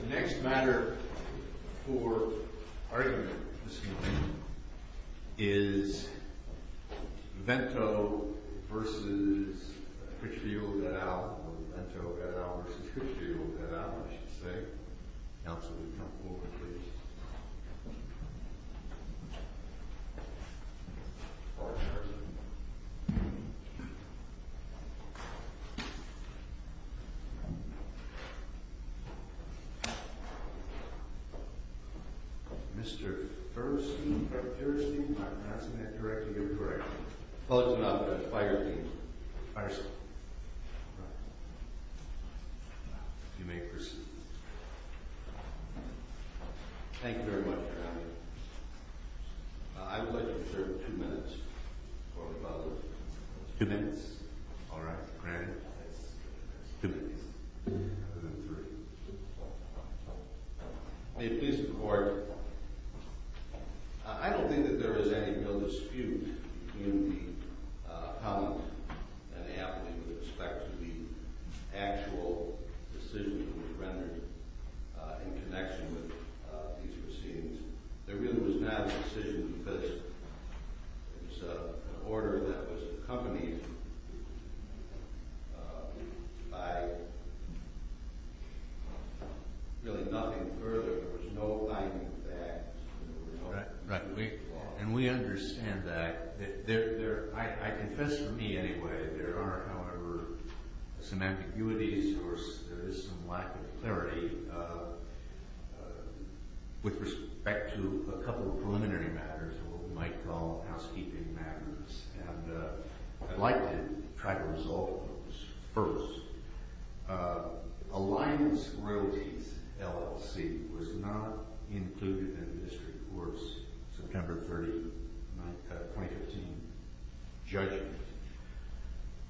The next matter for argument this morning is Vento v. Crithfield et al., or Vento et al. v. Crithfield et al., I should say. Counsel, you may come forward, please. Mr. Thurston. Mr. Thurston, I'm passing that directly to you. Correct. Fulton, I'll pass it by your team. Mr. Thurston, you may proceed. Thank you very much, Your Honor. I would like to reserve two minutes for rebuttal. Two minutes. All right, granted. Two minutes, rather than three. May it please the Court. I don't think that there is any real dispute between the appellant and the appellee with respect to the actual decision that was rendered in connection with these proceedings. There really was not a decision because it was an order that was accompanied by really nothing further. There was no binding fact. Right. And we understand that. I confess, for me anyway, there are, however, some ambiguities or there is some lack of clarity with respect to a couple of preliminary matters, what we might call housekeeping matters. And I'd like to try to resolve those first. Alliance Royalties LLC was not included in the District Court's September 30, 2015, judgment.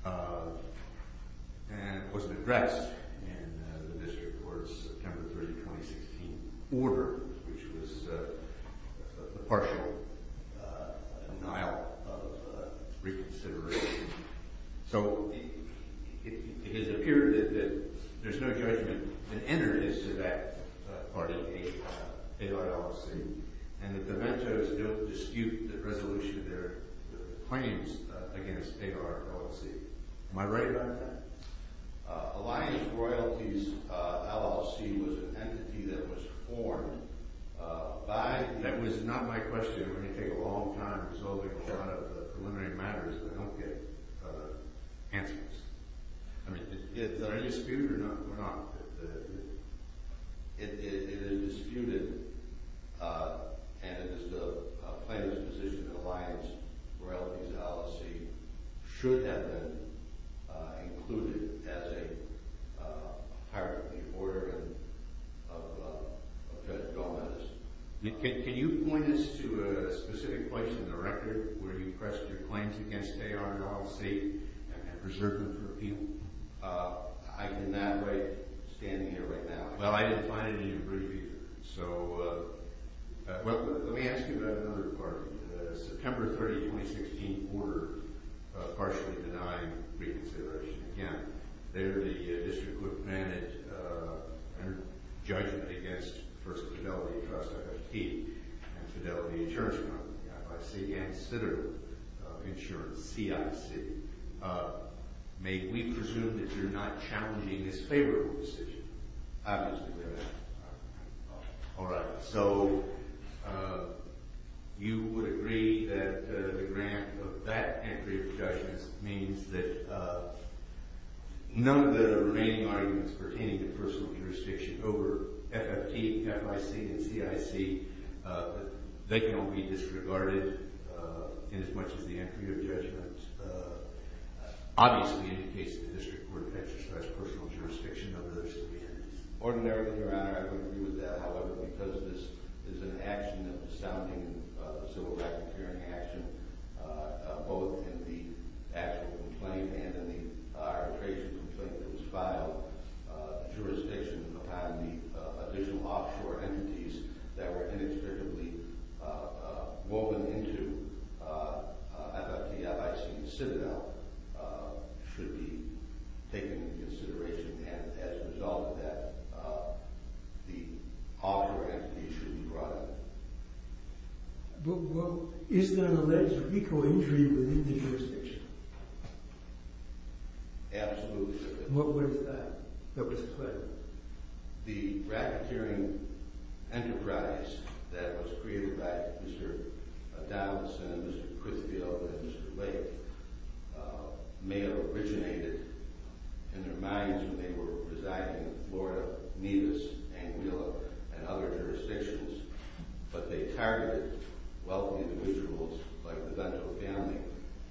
And it wasn't addressed in the District Court's September 30, 2016, order, which was a partial denial of reconsideration. So, it has appeared that there's no judgment that entered into that part of the AR LLC and that the mentors don't dispute the resolution of their claims against AR LLC. Am I right about that? Alliance Royalties LLC was an entity that was formed by – that was not my question. I'm going to take a long time resolving a lot of the preliminary matters. I don't get answers. I mean, is there any dispute or not? There's not. It's not included as a hierarchy of order of Judge Gomez. Can you point us to a specific place in the record where you pressed your claims against AR LLC and preserved them for appeal? I cannot wait standing here right now. Well, I didn't find it in your brief either. So – well, let me ask you about another part. September 30, 2016, order, partially denying reconsideration. Again, there the District Court granted a judgment against First Fidelity Trust, FIT, and Fidelity Insurance Company, FIC, and Citadel Insurance, CIC. May we presume that you're not challenging this favorable decision? Obviously, we're not. All right. So you would agree that the grant of that entry of judgment means that none of the remaining arguments pertaining to personal jurisdiction over FFT, FIC, and CIC, they can all be disregarded in as much as the entry of judgment. Obviously, it indicates that the District Court has expressed personal jurisdiction over those three entities. Ordinarily, Your Honor, I would agree with that. should be taken into consideration. And as a result of that, the author entry should be brought up. Well, is there an alleged legal injury within the jurisdiction? Absolutely, Your Honor. What was that? What was the claim? The racketeering enterprise that was created by Mr. Donaldson, Mr. Crisfield, and Mr. Lake may have originated in their minds when they were residing in Florida, Nevis, Anguilla, and other jurisdictions. But they targeted wealthy individuals like the Vento family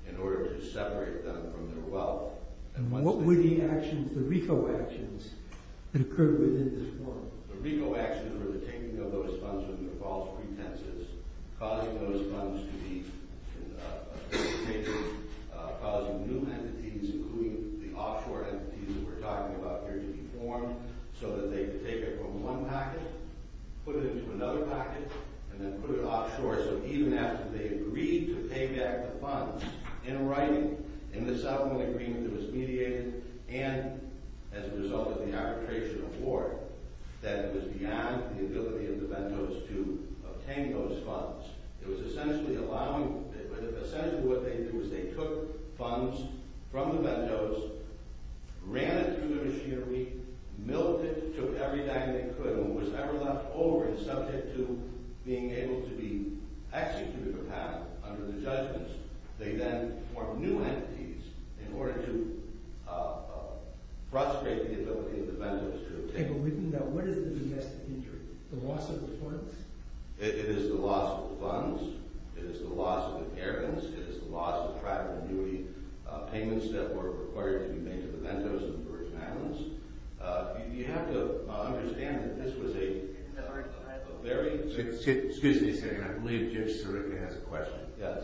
in order to separate them from their wealth. And what were the actions, the RICO actions, that occurred within this forum? The RICO actions were the taking of those funds under false pretenses, causing those funds to be appropriated, causing new entities, including the offshore entities that we're talking about here, to be formed so that they could take it from one pocket, put it into another pocket, and then put it offshore. So even after they agreed to pay back the funds in writing, in the settlement agreement that was mediated, and as a result of the arbitration of war, that it was beyond the ability of the Ventos to obtain those funds. It was essentially allowing – essentially what they did was they took funds from the Ventos, ran it through the machinery, milled it to every dime they could, and was never left over and subject to being able to be executed or have under the judgments. They then formed new entities in order to frustrate the ability of the Ventos to – Okay, but we can go – what is the domestic injury? The loss of the funds? It is the loss of the funds, it is the loss of inheritance, it is the loss of private annuity payments that were required to be made to the Ventos in the Virgin Islands. You have to understand that this was a very – Excuse me a second, I believe Jim Sirica has a question. Yes.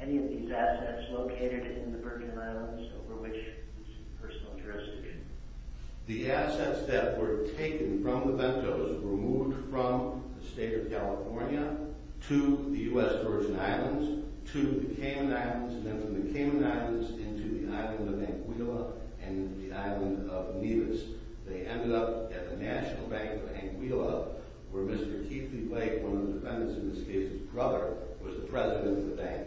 Any of these assets located in the Virgin Islands over which there's personal jurisdiction? The assets that were taken from the Ventos were moved from the state of California to the U.S. Virgin Islands, to the Cayman Islands, and then from the Cayman Islands into the island of Anguilla and the island of Nevis. They ended up at the National Bank of Anguilla, where Mr. Keithley Blake, one of the defendants in this case's brother, was the president of the bank.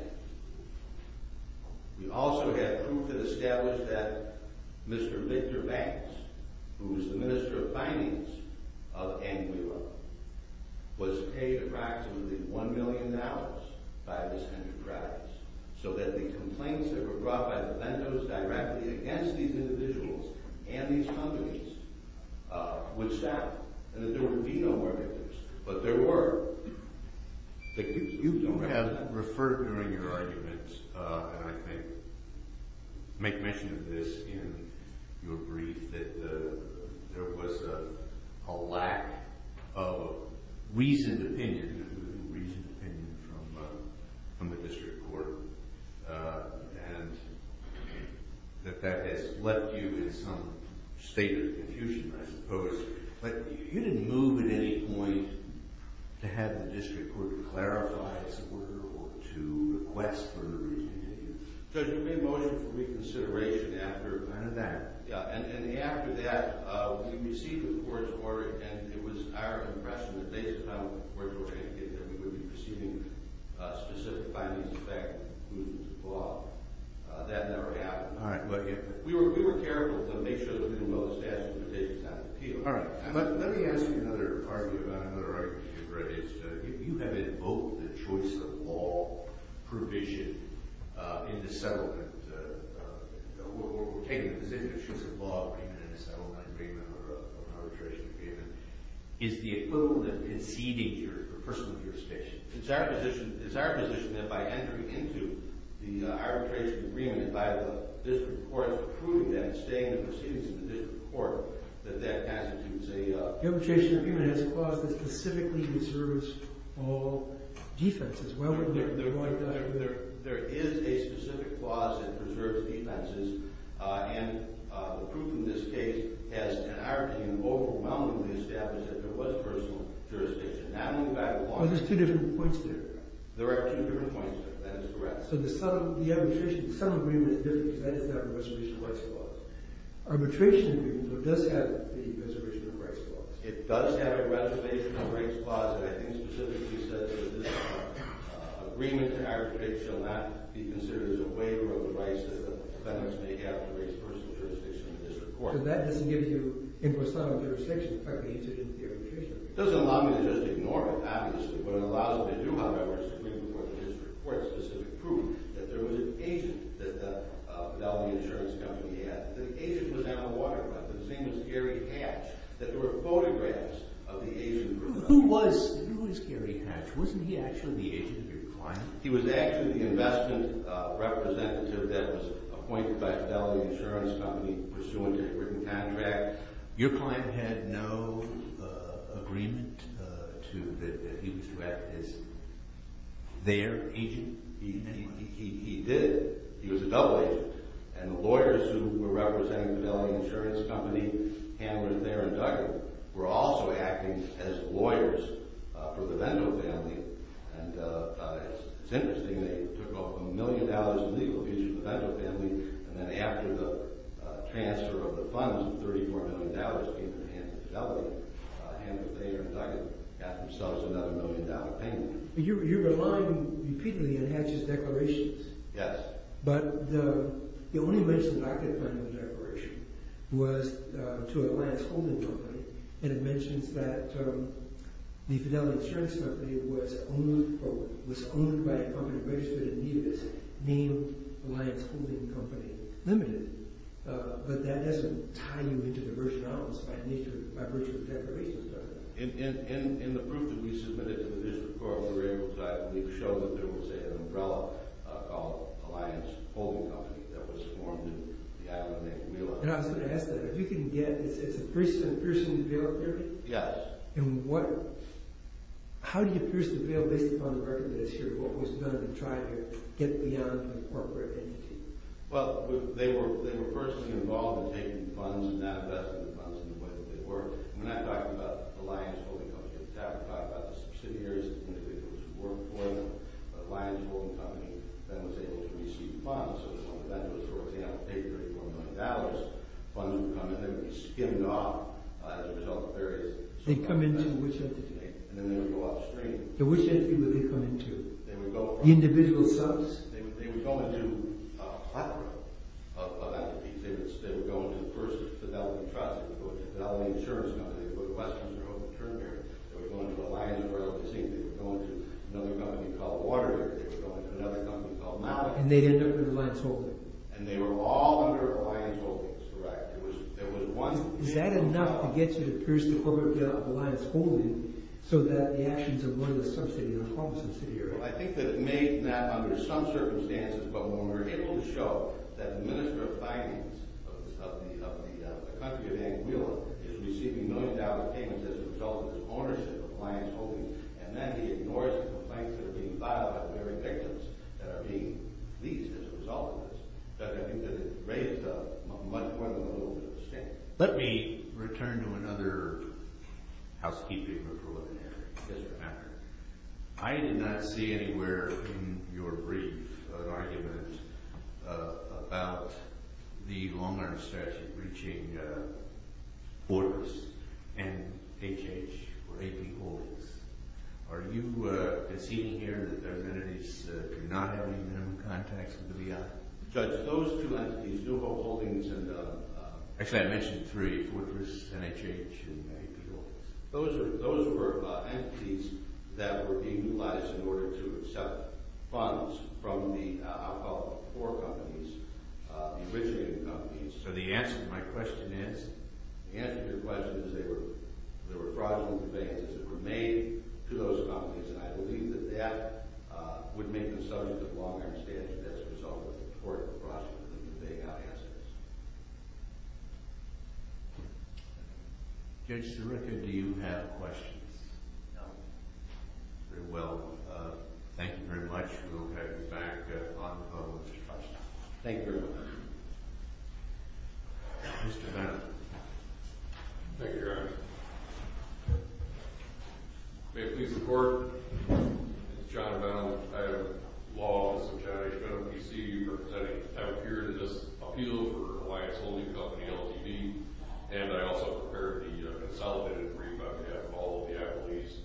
We also have proof that established that Mr. Victor Banks, who is the Minister of Finance of Anguilla, was paid approximately $1 million by this enterprise, so that the complaints that were brought by the Ventos directly against these individuals and these companies would settle, and that there would be no more victims. But there were – you have referred during your arguments, and I think make mention of this in your brief, that there was a lack of reasoned opinion, reasoned opinion from the district court, and that that has left you in some state of confusion, I suppose. But you didn't move at any point to have the district court clarify its order or to request further reasoned opinion? Judge, we made motion for reconsideration after – After that? Yeah, and after that, we received the court's order, and it was our impression that based on where we were going to get there, we would be proceeding with specific findings, in fact, that never happened. All right, but – We were careful to make sure that we were well-established, but it's out of appeal. All right. Let me ask you another argument, another argument you've raised. You have invoked the choice of law provision in the settlement, or taking the position of choice of law agreement in a settlement agreement or arbitration agreement. Is the equivalent conceding your personal jurisdiction? It's our position that by entering into the arbitration agreement, by the district court's approving them, staying the proceedings in the district court, that that constitutes a – The arbitration agreement has a clause that specifically preserves all defenses. There is a specific clause that preserves defenses, and the proof in this case has, in our opinion, overwhelmingly established that there was personal jurisdiction, not only by the law. Well, there's two different points there. There are two different points there. That is correct. So the settlement – the arbitration – the settlement agreement is different because that does not have a reservation of rights clause. Arbitration agreement, though, does have a reservation of rights clause. It does have a reservation of rights clause, and I think specifically says that this agreement, in our prediction, will not be considered as a waiver of the rights that defendants may have to raise personal jurisdiction in the district court. So that doesn't give you invoice settlement of jurisdiction. In fact, they enter it into the arbitration agreement. It doesn't allow me to just ignore it, obviously. What it allows me to do, however, is to bring before the district court specific proof that there was an agent that the Fidelity Insurance Company had. The agent was at a waterfront. His name was Gary Hatch. There were photographs of the agent. Who was – who is Gary Hatch? Wasn't he actually the agent of your client? He was actually the investment representative that was appointed by Fidelity Insurance Company pursuant to a written contract. Your client had no agreement to – that he was to act as their agent? He did. He was a double agent. And the lawyers who were representing the Fidelity Insurance Company, handlers there and Duggan, were also acting as lawyers for the Levendo family. And it's interesting. They took off $1 million in legal fees from the Levendo family. And then after the transfer of the funds of $34 million came from the hands of Fidelity, handlers there and Duggan got themselves another $1 million payment. You're relying repeatedly on Hatch's declarations. Yes. But the only mention that I could find in the declaration was to an Alliance Holding Company. And it mentions that the Fidelity Insurance Company was owned – or was owned by a company registered in Nevis named Alliance Holding Company Limited. But that doesn't tie you into the version I was finding by virtue of the declarations, does it? In the proof that we submitted to the district court, we were able to, I believe, show that there was an umbrella called Alliance Holding Company that was formed in the island name of Nevis. And I was going to ask that. If you can get – it's a piercing bill, is it? Yes. And what – how do you pierce the bill based upon the record that is here of what was done to try to get beyond the corporate entity? Well, they were personally involved in taking funds and divesting the funds in the way that they were. And when I talk about the Alliance Holding Company at the time, I'm talking about the subsidiaries, the individuals who worked for them. But Alliance Holding Company then was able to receive funds. So they were one of those groups. They had to pay $34 million. Funds would come in. They would be skimmed off as a result of various… They'd come into which entity? And then they would go upstream. Which entity would they come into? The individual subs? They would go into a plethora of entities. They would go into, first, Fidelity Trust. They would go into Fidelity Insurance Company. They would go to Westminster Home and Terminary. They would go into Alliance Realty System. They would go into another company called Water. They would go into another company called Malibu. And they'd end up with Alliance Holding. And they were all under Alliance Holding. That's correct. There was one… Is that enough to get you to pierce the corporate bill of Alliance Holding so that the actions of one of the subsidiaries are harmless in the city area? I think that it may not under some circumstances, but when we're able to show that the Minister of Finance of the country of Anguilla is receiving millions of dollars of payments as a result of his ownership of Alliance Holding, and then he ignores the complaints that are being filed about the very victims that are being leased as a result of this, I think that it raises much more than a little bit of a stain. Let me return to another housekeeping or preliminary issue. Yes, Your Honor. I did not see anywhere in your brief an argument about the long-run strategy of breaching Fortress and HH or AP Holdings. Are you conceding here that those entities do not have any minimum contacts with the FBI? Judge, those two entities, Newhall Holdings and… Actually, I mentioned three, Fortress, NHH, and AP Holdings. Those were entities that were being utilized in order to accept funds from the alcohol core companies, the originating companies. So the answer to my question is? The answer to your question is they were fraudulent advances that were made to those companies, and I believe that that would make the subject of long-run strategy as a result of the fraudulent advances. Judge Sirica, do you have questions? No. Very well. Thank you very much. We'll head back on to the questions. Thank you very much. Mr. Bowne. Thank you, Your Honor. May it please the Court? My name is John Bowne. I have a law on the subject. I've been on the PCU for a period of this appeal for an Alliance Holding Company LTV, and I also prepared the consolidated brief on behalf of all of the Apple East,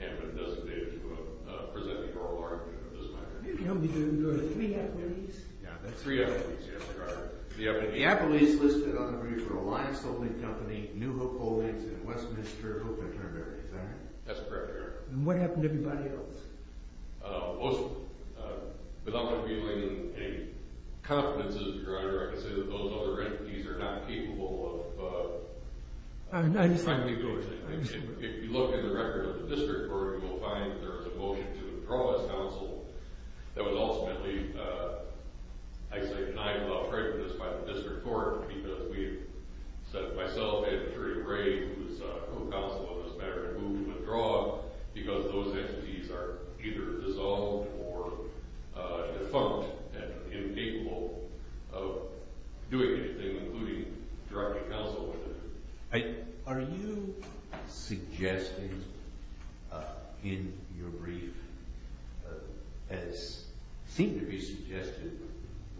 and have been designated to present the oral argument on this matter. You can only do three Apple Easts? Three Apple Easts, yes, Your Honor. The Apple Easts listed on the brief were Alliance Holding Company, Newhall Holdings, and Westminster Hook and Turnberry, is that right? That's correct, Your Honor. And what happened to everybody else? Most of them. Without revealing any confidences, Your Honor, I can say that those other entities are not capable of trying to do the same thing. If you look in the record of the district court, you will find that there was a motion to withdraw as counsel. That was ultimately, I say, denied without prejudice by the district court, because we have set myself and Jerry Gray, who is co-counsel on this matter, to move to withdraw because those entities are either dissolved or defunct and inequal of doing anything, including directing counsel. Are you suggesting in your brief, as seemed to be suggested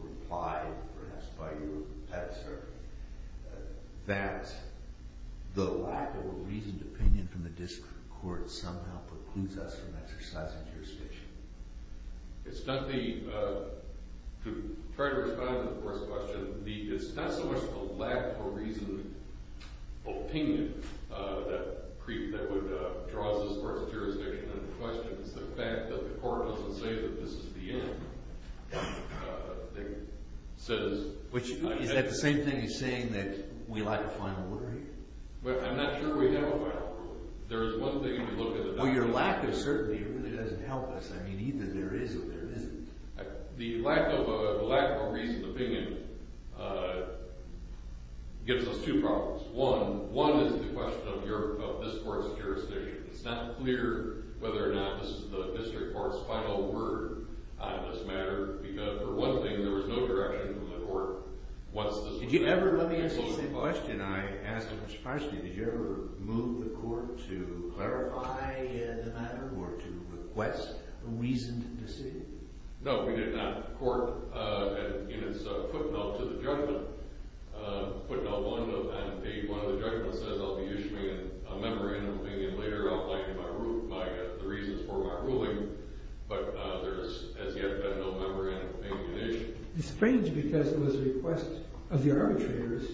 or implied perhaps by your answer, that the lack of a reasoned opinion from the district court somehow precludes us from exercising jurisdiction? It's not the—to try to respond to the first question, it's not so much the lack of a reasoned opinion that would draw us towards jurisdiction. The question is the fact that the court doesn't say that this is the end. Is that the same thing as saying that we lack a final warrant? Well, I'm not sure we have a final warrant. There is one thing that we look at— Well, your lack of certainty really doesn't help us. I mean, either there is or there isn't. The lack of a reasoned opinion gives us two problems. One is the question of this court's jurisdiction. It's not clear whether or not this is the district court's final word on this matter, because for one thing, there was no direction from the court once this was— Did you ever—let me ask you the same question. I asked him this question. Did you ever move the court to clarify the matter or to request a reasoned decision? No, we did not. The court, in its footnote to the judgment, footnote one of that, one of the judgments says, I'll be issuing a memorandum of opinion later outlining my—the reasons for my ruling, but there has yet been no memorandum of opinion issued. It's strange because it was a request of the arbitrators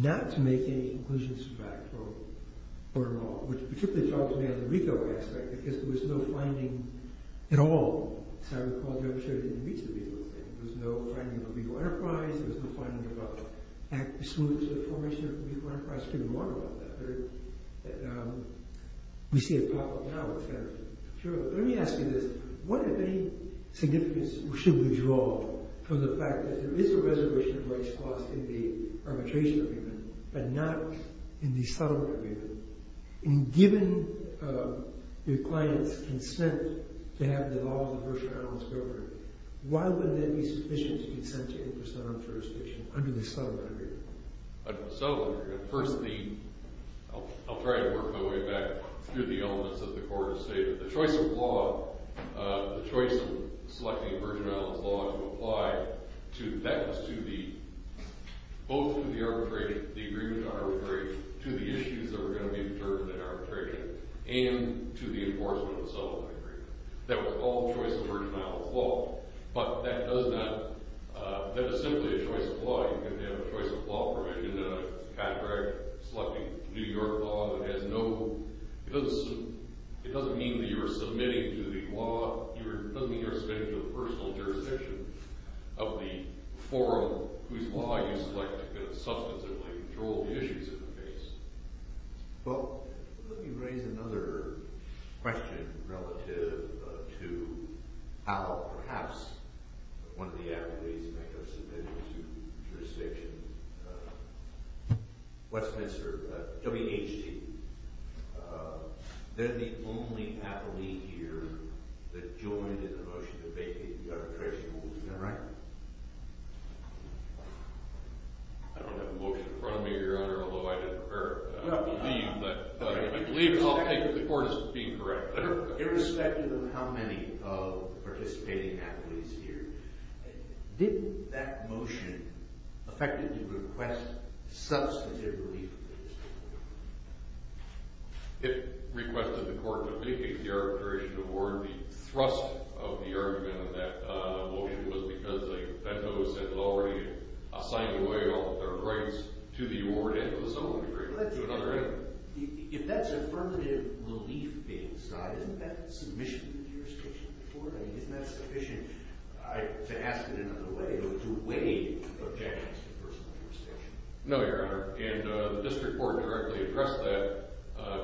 not to make any conclusions from that court at all, which particularly troubles me on the legal aspect, because there was no finding at all. As I recall, Judge Schroeder didn't reach the legal thing. There was no finding of legal enterprise. There was no finding about smoothness of the formation of legal enterprise. You could have warned about that, but we see it pop up now. Let me ask you this. What, if any, significance should we draw from the fact that there is a reservation of rights clause in the arbitration agreement but not in the settlement agreement? And given your client's consent to have the law in the first round of its government, why wouldn't that be sufficient to consent to 8% on jurisdiction under the settlement agreement? Under the settlement agreement, first the—I'll try to work my way back through the elements of the court to say that the choice of law, the choice of selecting virgin islands law to apply to— that was to the—both to the arbitration, the agreement to arbitration, to the issues that were going to be determined in arbitration, and to the enforcement of the settlement agreement. That was all choice of virgin islands law. But that does not—that is simply a choice of law. You can have a choice of law provision in a category selecting New York law that has no— it doesn't mean that you are submitting to the law— it doesn't mean you are submitting to the personal jurisdiction of the forum whose law you select to kind of substantively control the issues in the case. Well, let me raise another question relative to how perhaps one of the accolades might go submitted to jurisdiction. Westminster—WHT. They're the only athlete here that joined in the motion to vacate the arbitration rules. Is that right? I don't have a motion in front of me, Your Honor, although I didn't prepare it. I don't believe that—I believe that I'll take the court as being correct. Irrespective of how many participating athletes here, did that motion effectively request substantive relief from the jurisdiction? It requested the court to vacate the arbitration award. The thrust of the argument of that motion was because they— that host had already assigned away all of their rights to the award and to the settlement agreement, to another end. If that's affirmative relief being sought, isn't that submission to the jurisdiction of the court? I mean, isn't that sufficient to ask it in another way or to weigh objections to personal jurisdiction? No, Your Honor. And the district court directly addressed that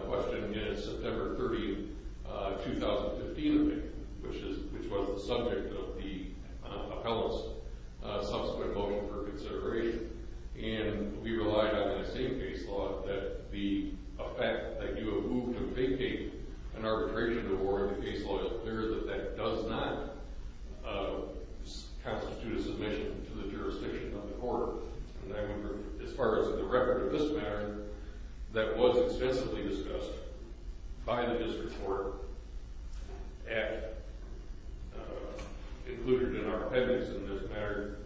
question in September 30, 2015, which was the subject of the appellate's subsequent motion for consideration. And we relied on that same case law that the fact that you have moved to vacate an arbitration award in the case law is clear that that does not constitute a submission to the jurisdiction of the court. And I remember, as far as the record of this matter, that was extensively discussed by the district court at—included in our appendix in this matter,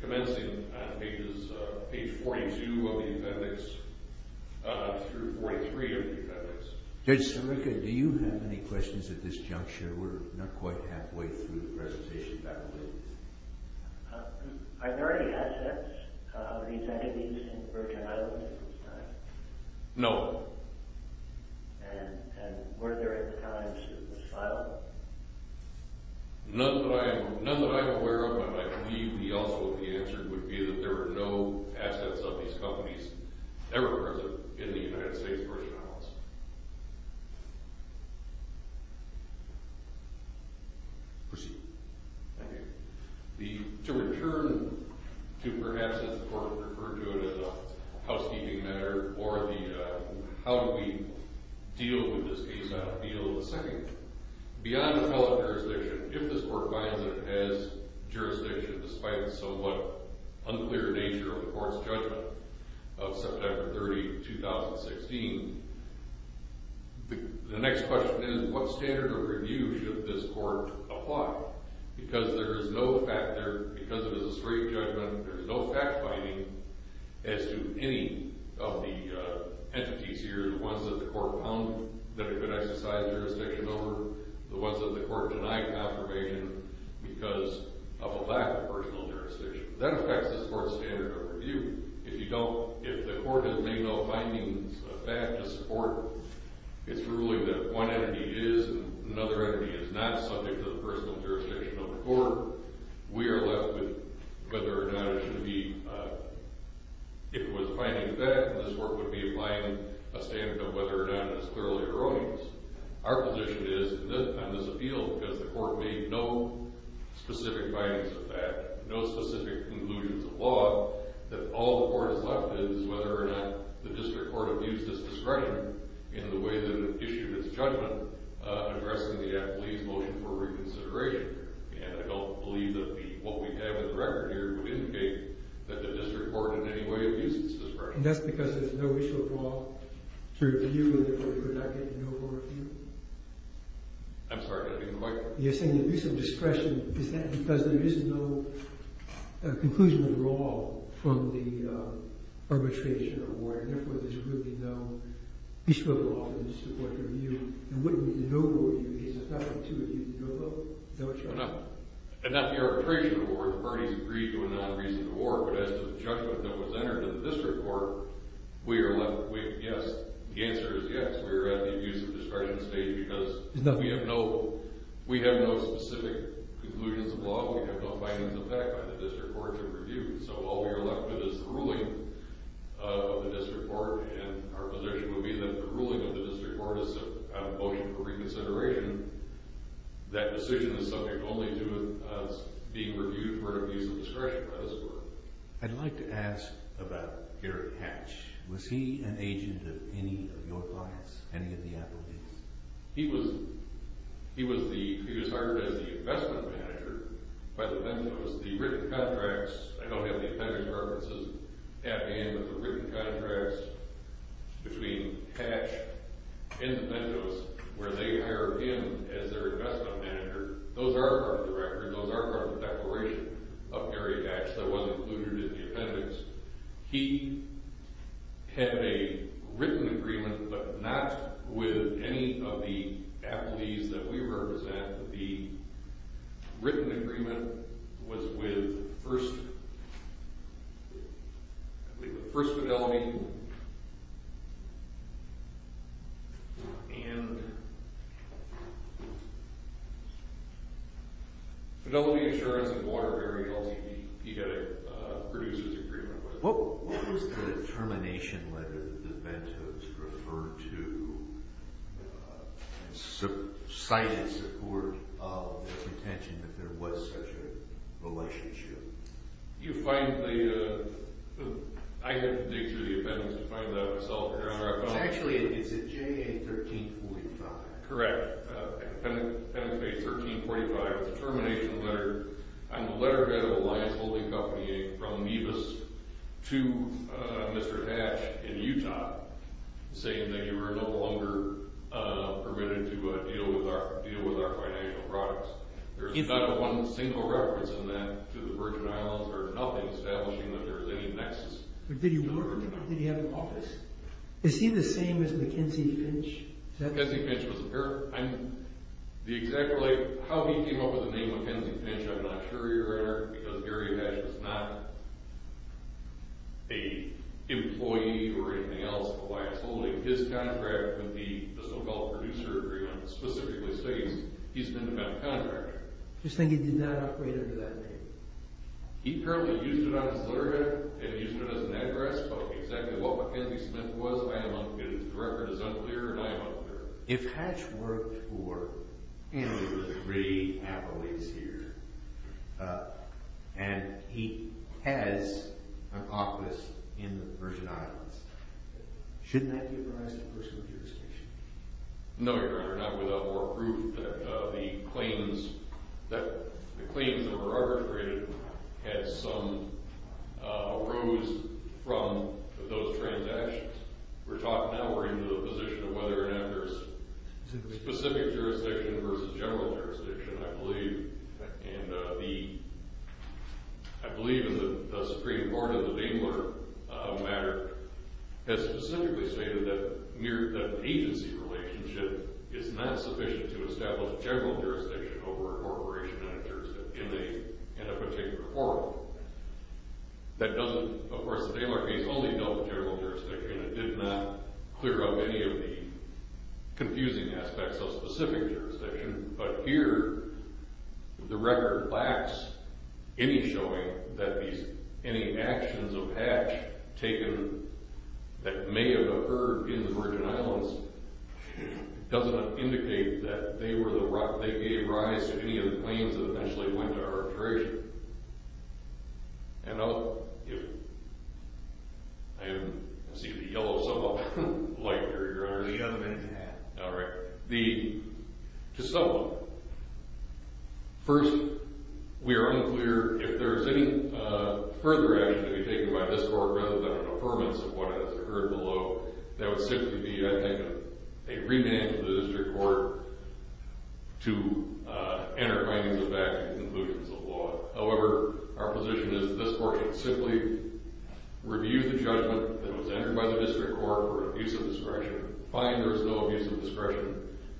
commencing on pages—page 42 of the appendix through 43 of the appendix. Judge Sirica, do you have any questions at this juncture? We're not quite halfway through the presentation. Are there any assets of these entities in the Virgin Islands at this time? No. And were there at the time to file? None that I'm aware of, but I believe the ultimate answer would be that there were no assets of these companies ever present in the United States Virgin Islands. Proceed. Thank you. To return to, perhaps, as the Court would refer to it as a housekeeping matter, or the how do we deal with this case on appeal of the second, beyond appellate jurisdiction, if this Court finds that it has jurisdiction, despite the somewhat unclear nature of the Court's judgment of September 30, 2016, the next question is what standard of review should this Court apply? Because there is no fact there, because it is a straight judgment, there is no fact-finding as to any of the entities here, the ones that the Court found that it could exercise jurisdiction over, the ones that the Court denied confirmation because of a lack of personal jurisdiction. That affects this Court's standard of review. If you don't—if the Court has made no findings of fact to support, it's ruling that if one entity is and another entity is not subject to the personal jurisdiction of the Court, we are left with whether or not it should be—if it was a finding of fact, this Court would be applying a standard of whether or not it is thoroughly erroneous. Our position is, on this appeal, because the Court made no specific findings of fact, no specific conclusions of law, that all the Court is left is whether or not the district court abused its discretion in the way that it issued its judgment addressing the athlete's motion for reconsideration. And I don't believe that what we have in the record here would indicate that the district court in any way abused its discretion. And that's because there's no issue of law to review and therefore you're not getting no more review? I'm sorry, I didn't quite— You're saying abuse of discretion, is that because there is no conclusion of law from the arbitration award, and therefore there's really no piece of law in the district court to review? And wouldn't it be no more review because it's not up to abuse of no vote? Is that what you're— And not the arbitration award, the parties agreed to a non-reasoned award, but as to the judgment that was entered in the district court, we are left with yes, the answer is yes, we are at the abuse of discretion stage because we have no specific conclusions of law, we have no findings of fact by the district court to review. So all we are left with is the ruling of the district court, and our position would be that the ruling of the district court is a motion for reconsideration. That decision is subject only to us being reviewed for abuse of discretion by the court. I'd like to ask about Garrett Hatch. Was he an agent of any of your clients, any of the athletes? He was hired as the investment manager by the Mentos. The written contracts—I don't have the appendix references at hand, but the written contracts between Hatch and the Mentos where they hired him as their investment manager, those are part of the record, those are part of the declaration of Gary Hatch that was included in the appendix. He had a written agreement, but not with any of the athletes that we represent. The written agreement was with First Fidelity, and Fidelity Insurance and Water Carrying LLC. He had a producer's agreement with them. What was the termination letter that the Mentos referred to, citing support of the pretension that there was such a relationship? You find the—I had to dig through the appendix to find that myself, Your Honor. Actually, it's at JA 1345. Correct. Penitentiary 1345. It's a termination letter on the letterhead of Alliance Holding Company, from Nevis to Mr. Hatch in Utah, saying that you are no longer permitted to deal with our financial products. There's not one single reference in that to the Virgin Islands or nothing establishing that there's any nexus. Did he work there or did he have an office? Is he the same as Mackenzie Finch? Mackenzie Finch was a parent. The exact—how he came up with the name Mackenzie Finch, I'm not sure, Your Honor, because Gary Hatch was not an employee or anything else of Alliance Holding. His contract with the so-called producer agreement specifically states he's an independent contractor. You're saying he did not operate under that name? He currently used it on his letterhead and used it as an address, but exactly what Mackenzie Smith was, I am unclear. The record is unclear and I am unclear. If Hatch worked for—and there were three Appleys here, and he has an office in the Virgin Islands, shouldn't that give rise to a personal jurisdiction? No, Your Honor, not without more proof that the claims that were arbitrated had some arose from those transactions. We're talking now we're into the position of whether or not there's specific jurisdiction versus general jurisdiction, I believe. And the—I believe the Supreme Court in the Daylor matter has specifically stated that agency relationship is not sufficient to establish general jurisdiction over a corporation in a jurisdiction, in a particular forum. That doesn't—of course, the Daylor case only dealt with general jurisdiction. It did not clear up any of the confusing aspects of specific jurisdiction. But here, the record lacks any showing that these—any actions of Hatch taken that may have occurred in the Virgin Islands doesn't indicate that they were the—they gave rise to any of the claims that eventually went arbitration. And I'll give—I see the yellow symbol. Light, Your Honor. All right. The—to sum up, first, we are unclear if there's any further action to be taken by this Court rather than an affirmance of what has occurred below. That would simply be, I think, a remand to the district court to enter findings of fact and conclusions of law. However, our position is that this Court can simply review the judgment that was entered by the district court for abuse of discretion, find there's no abuse of discretion,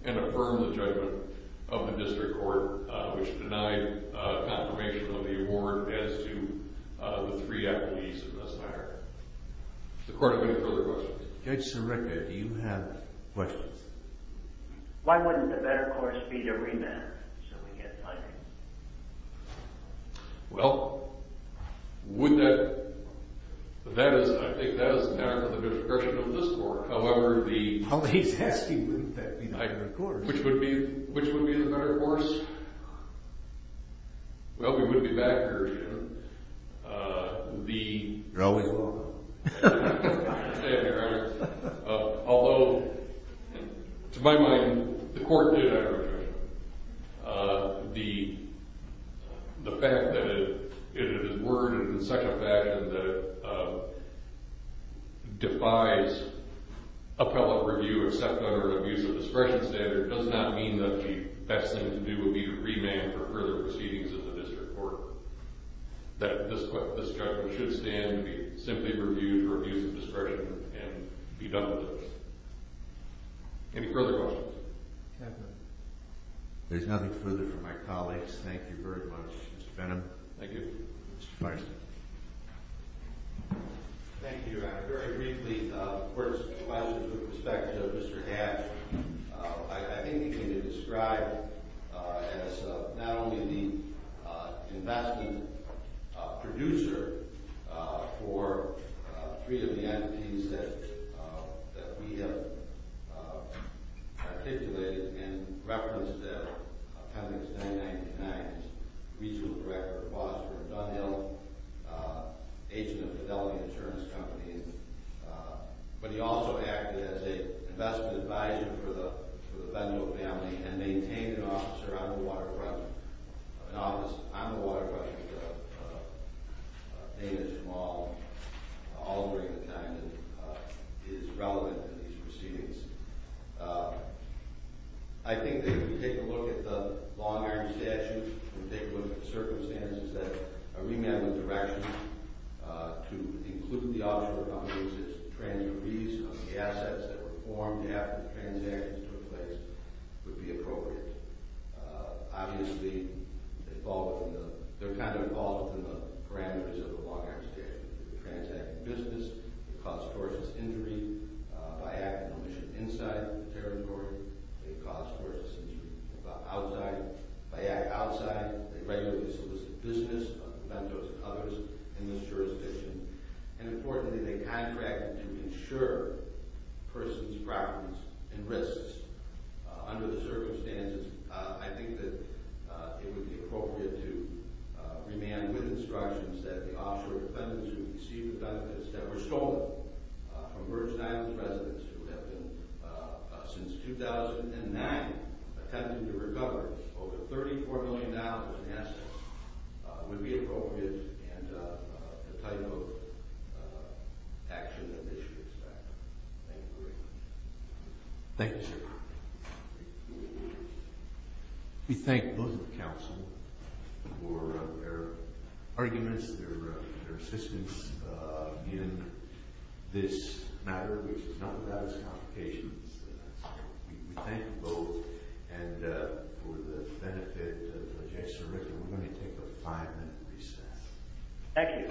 and affirm the judgment of the district court, which denied confirmation of the award as to the three appellees in this matter. Does the Court have any further questions? Judge Sirica, do you have questions? Why wouldn't a better course be to remand so we get findings? Well, would that—that is—I think that is a matter for the discretion of this Court. However, the— Well, he's asking wouldn't that be the better course. Which would be—which would be the better course? Well, we would be back, Your Honor. The— You're always wrong. Thank you, Your Honor. Although, to my mind, the Court did have a judgment. The fact that it is worded in such a fashion that it defies appellate review, except under an abuse of discretion standard, does not mean that the best thing to do would be to remand for further proceedings in the district court. That this judgment should stand to be simply reviewed for abuse of discretion and be done with it. Any further questions? There's nothing further for my colleagues. Thank you very much, Mr. Benham. Thank you. Mr. Feist. Thank you, Your Honor. Very briefly, of course, from my perspective, Mr. Hatch, I think he can be described as not only the investment producer for three of the entities that we have articulated and referenced at appendix 999, as regional director of Bosford Dunhill, agent of Fidelity Insurance Company, but he also acted as an investment advisor for the Dunhill family and maintained an office around the waterfront. An office on the waterfront, all during the time that is relevant to these proceedings. I think that if we take a look at the long-arm statute and take a look at the circumstances, that a remand with direction to include the offshore companies as transcurrees on the assets that were formed after the transactions took place would be appropriate. Obviously, they fall within the parameters of the long-arm statute. They transact in business. They cause forceless injury by act of omission inside the territory. They cause forceless injury outside. They regularly solicit business from vendors and others in this jurisdiction. And importantly, they contract to insure persons' properties and risks. Under the circumstances, I think that it would be appropriate to remand with instructions that the offshore defendants who received the benefits that were stolen from Virgin Islands residents who have been, since 2009, attempting to recover over $34 million in assets would be appropriate and the type of action that they should expect. Thank you very much. Thank you, sir. We thank both the Council for their arguments, their assistance in this matter, which is not without its complications. We thank them both. And for the benefit of Judge Sirica, we're going to take a five-minute recess. Thank you.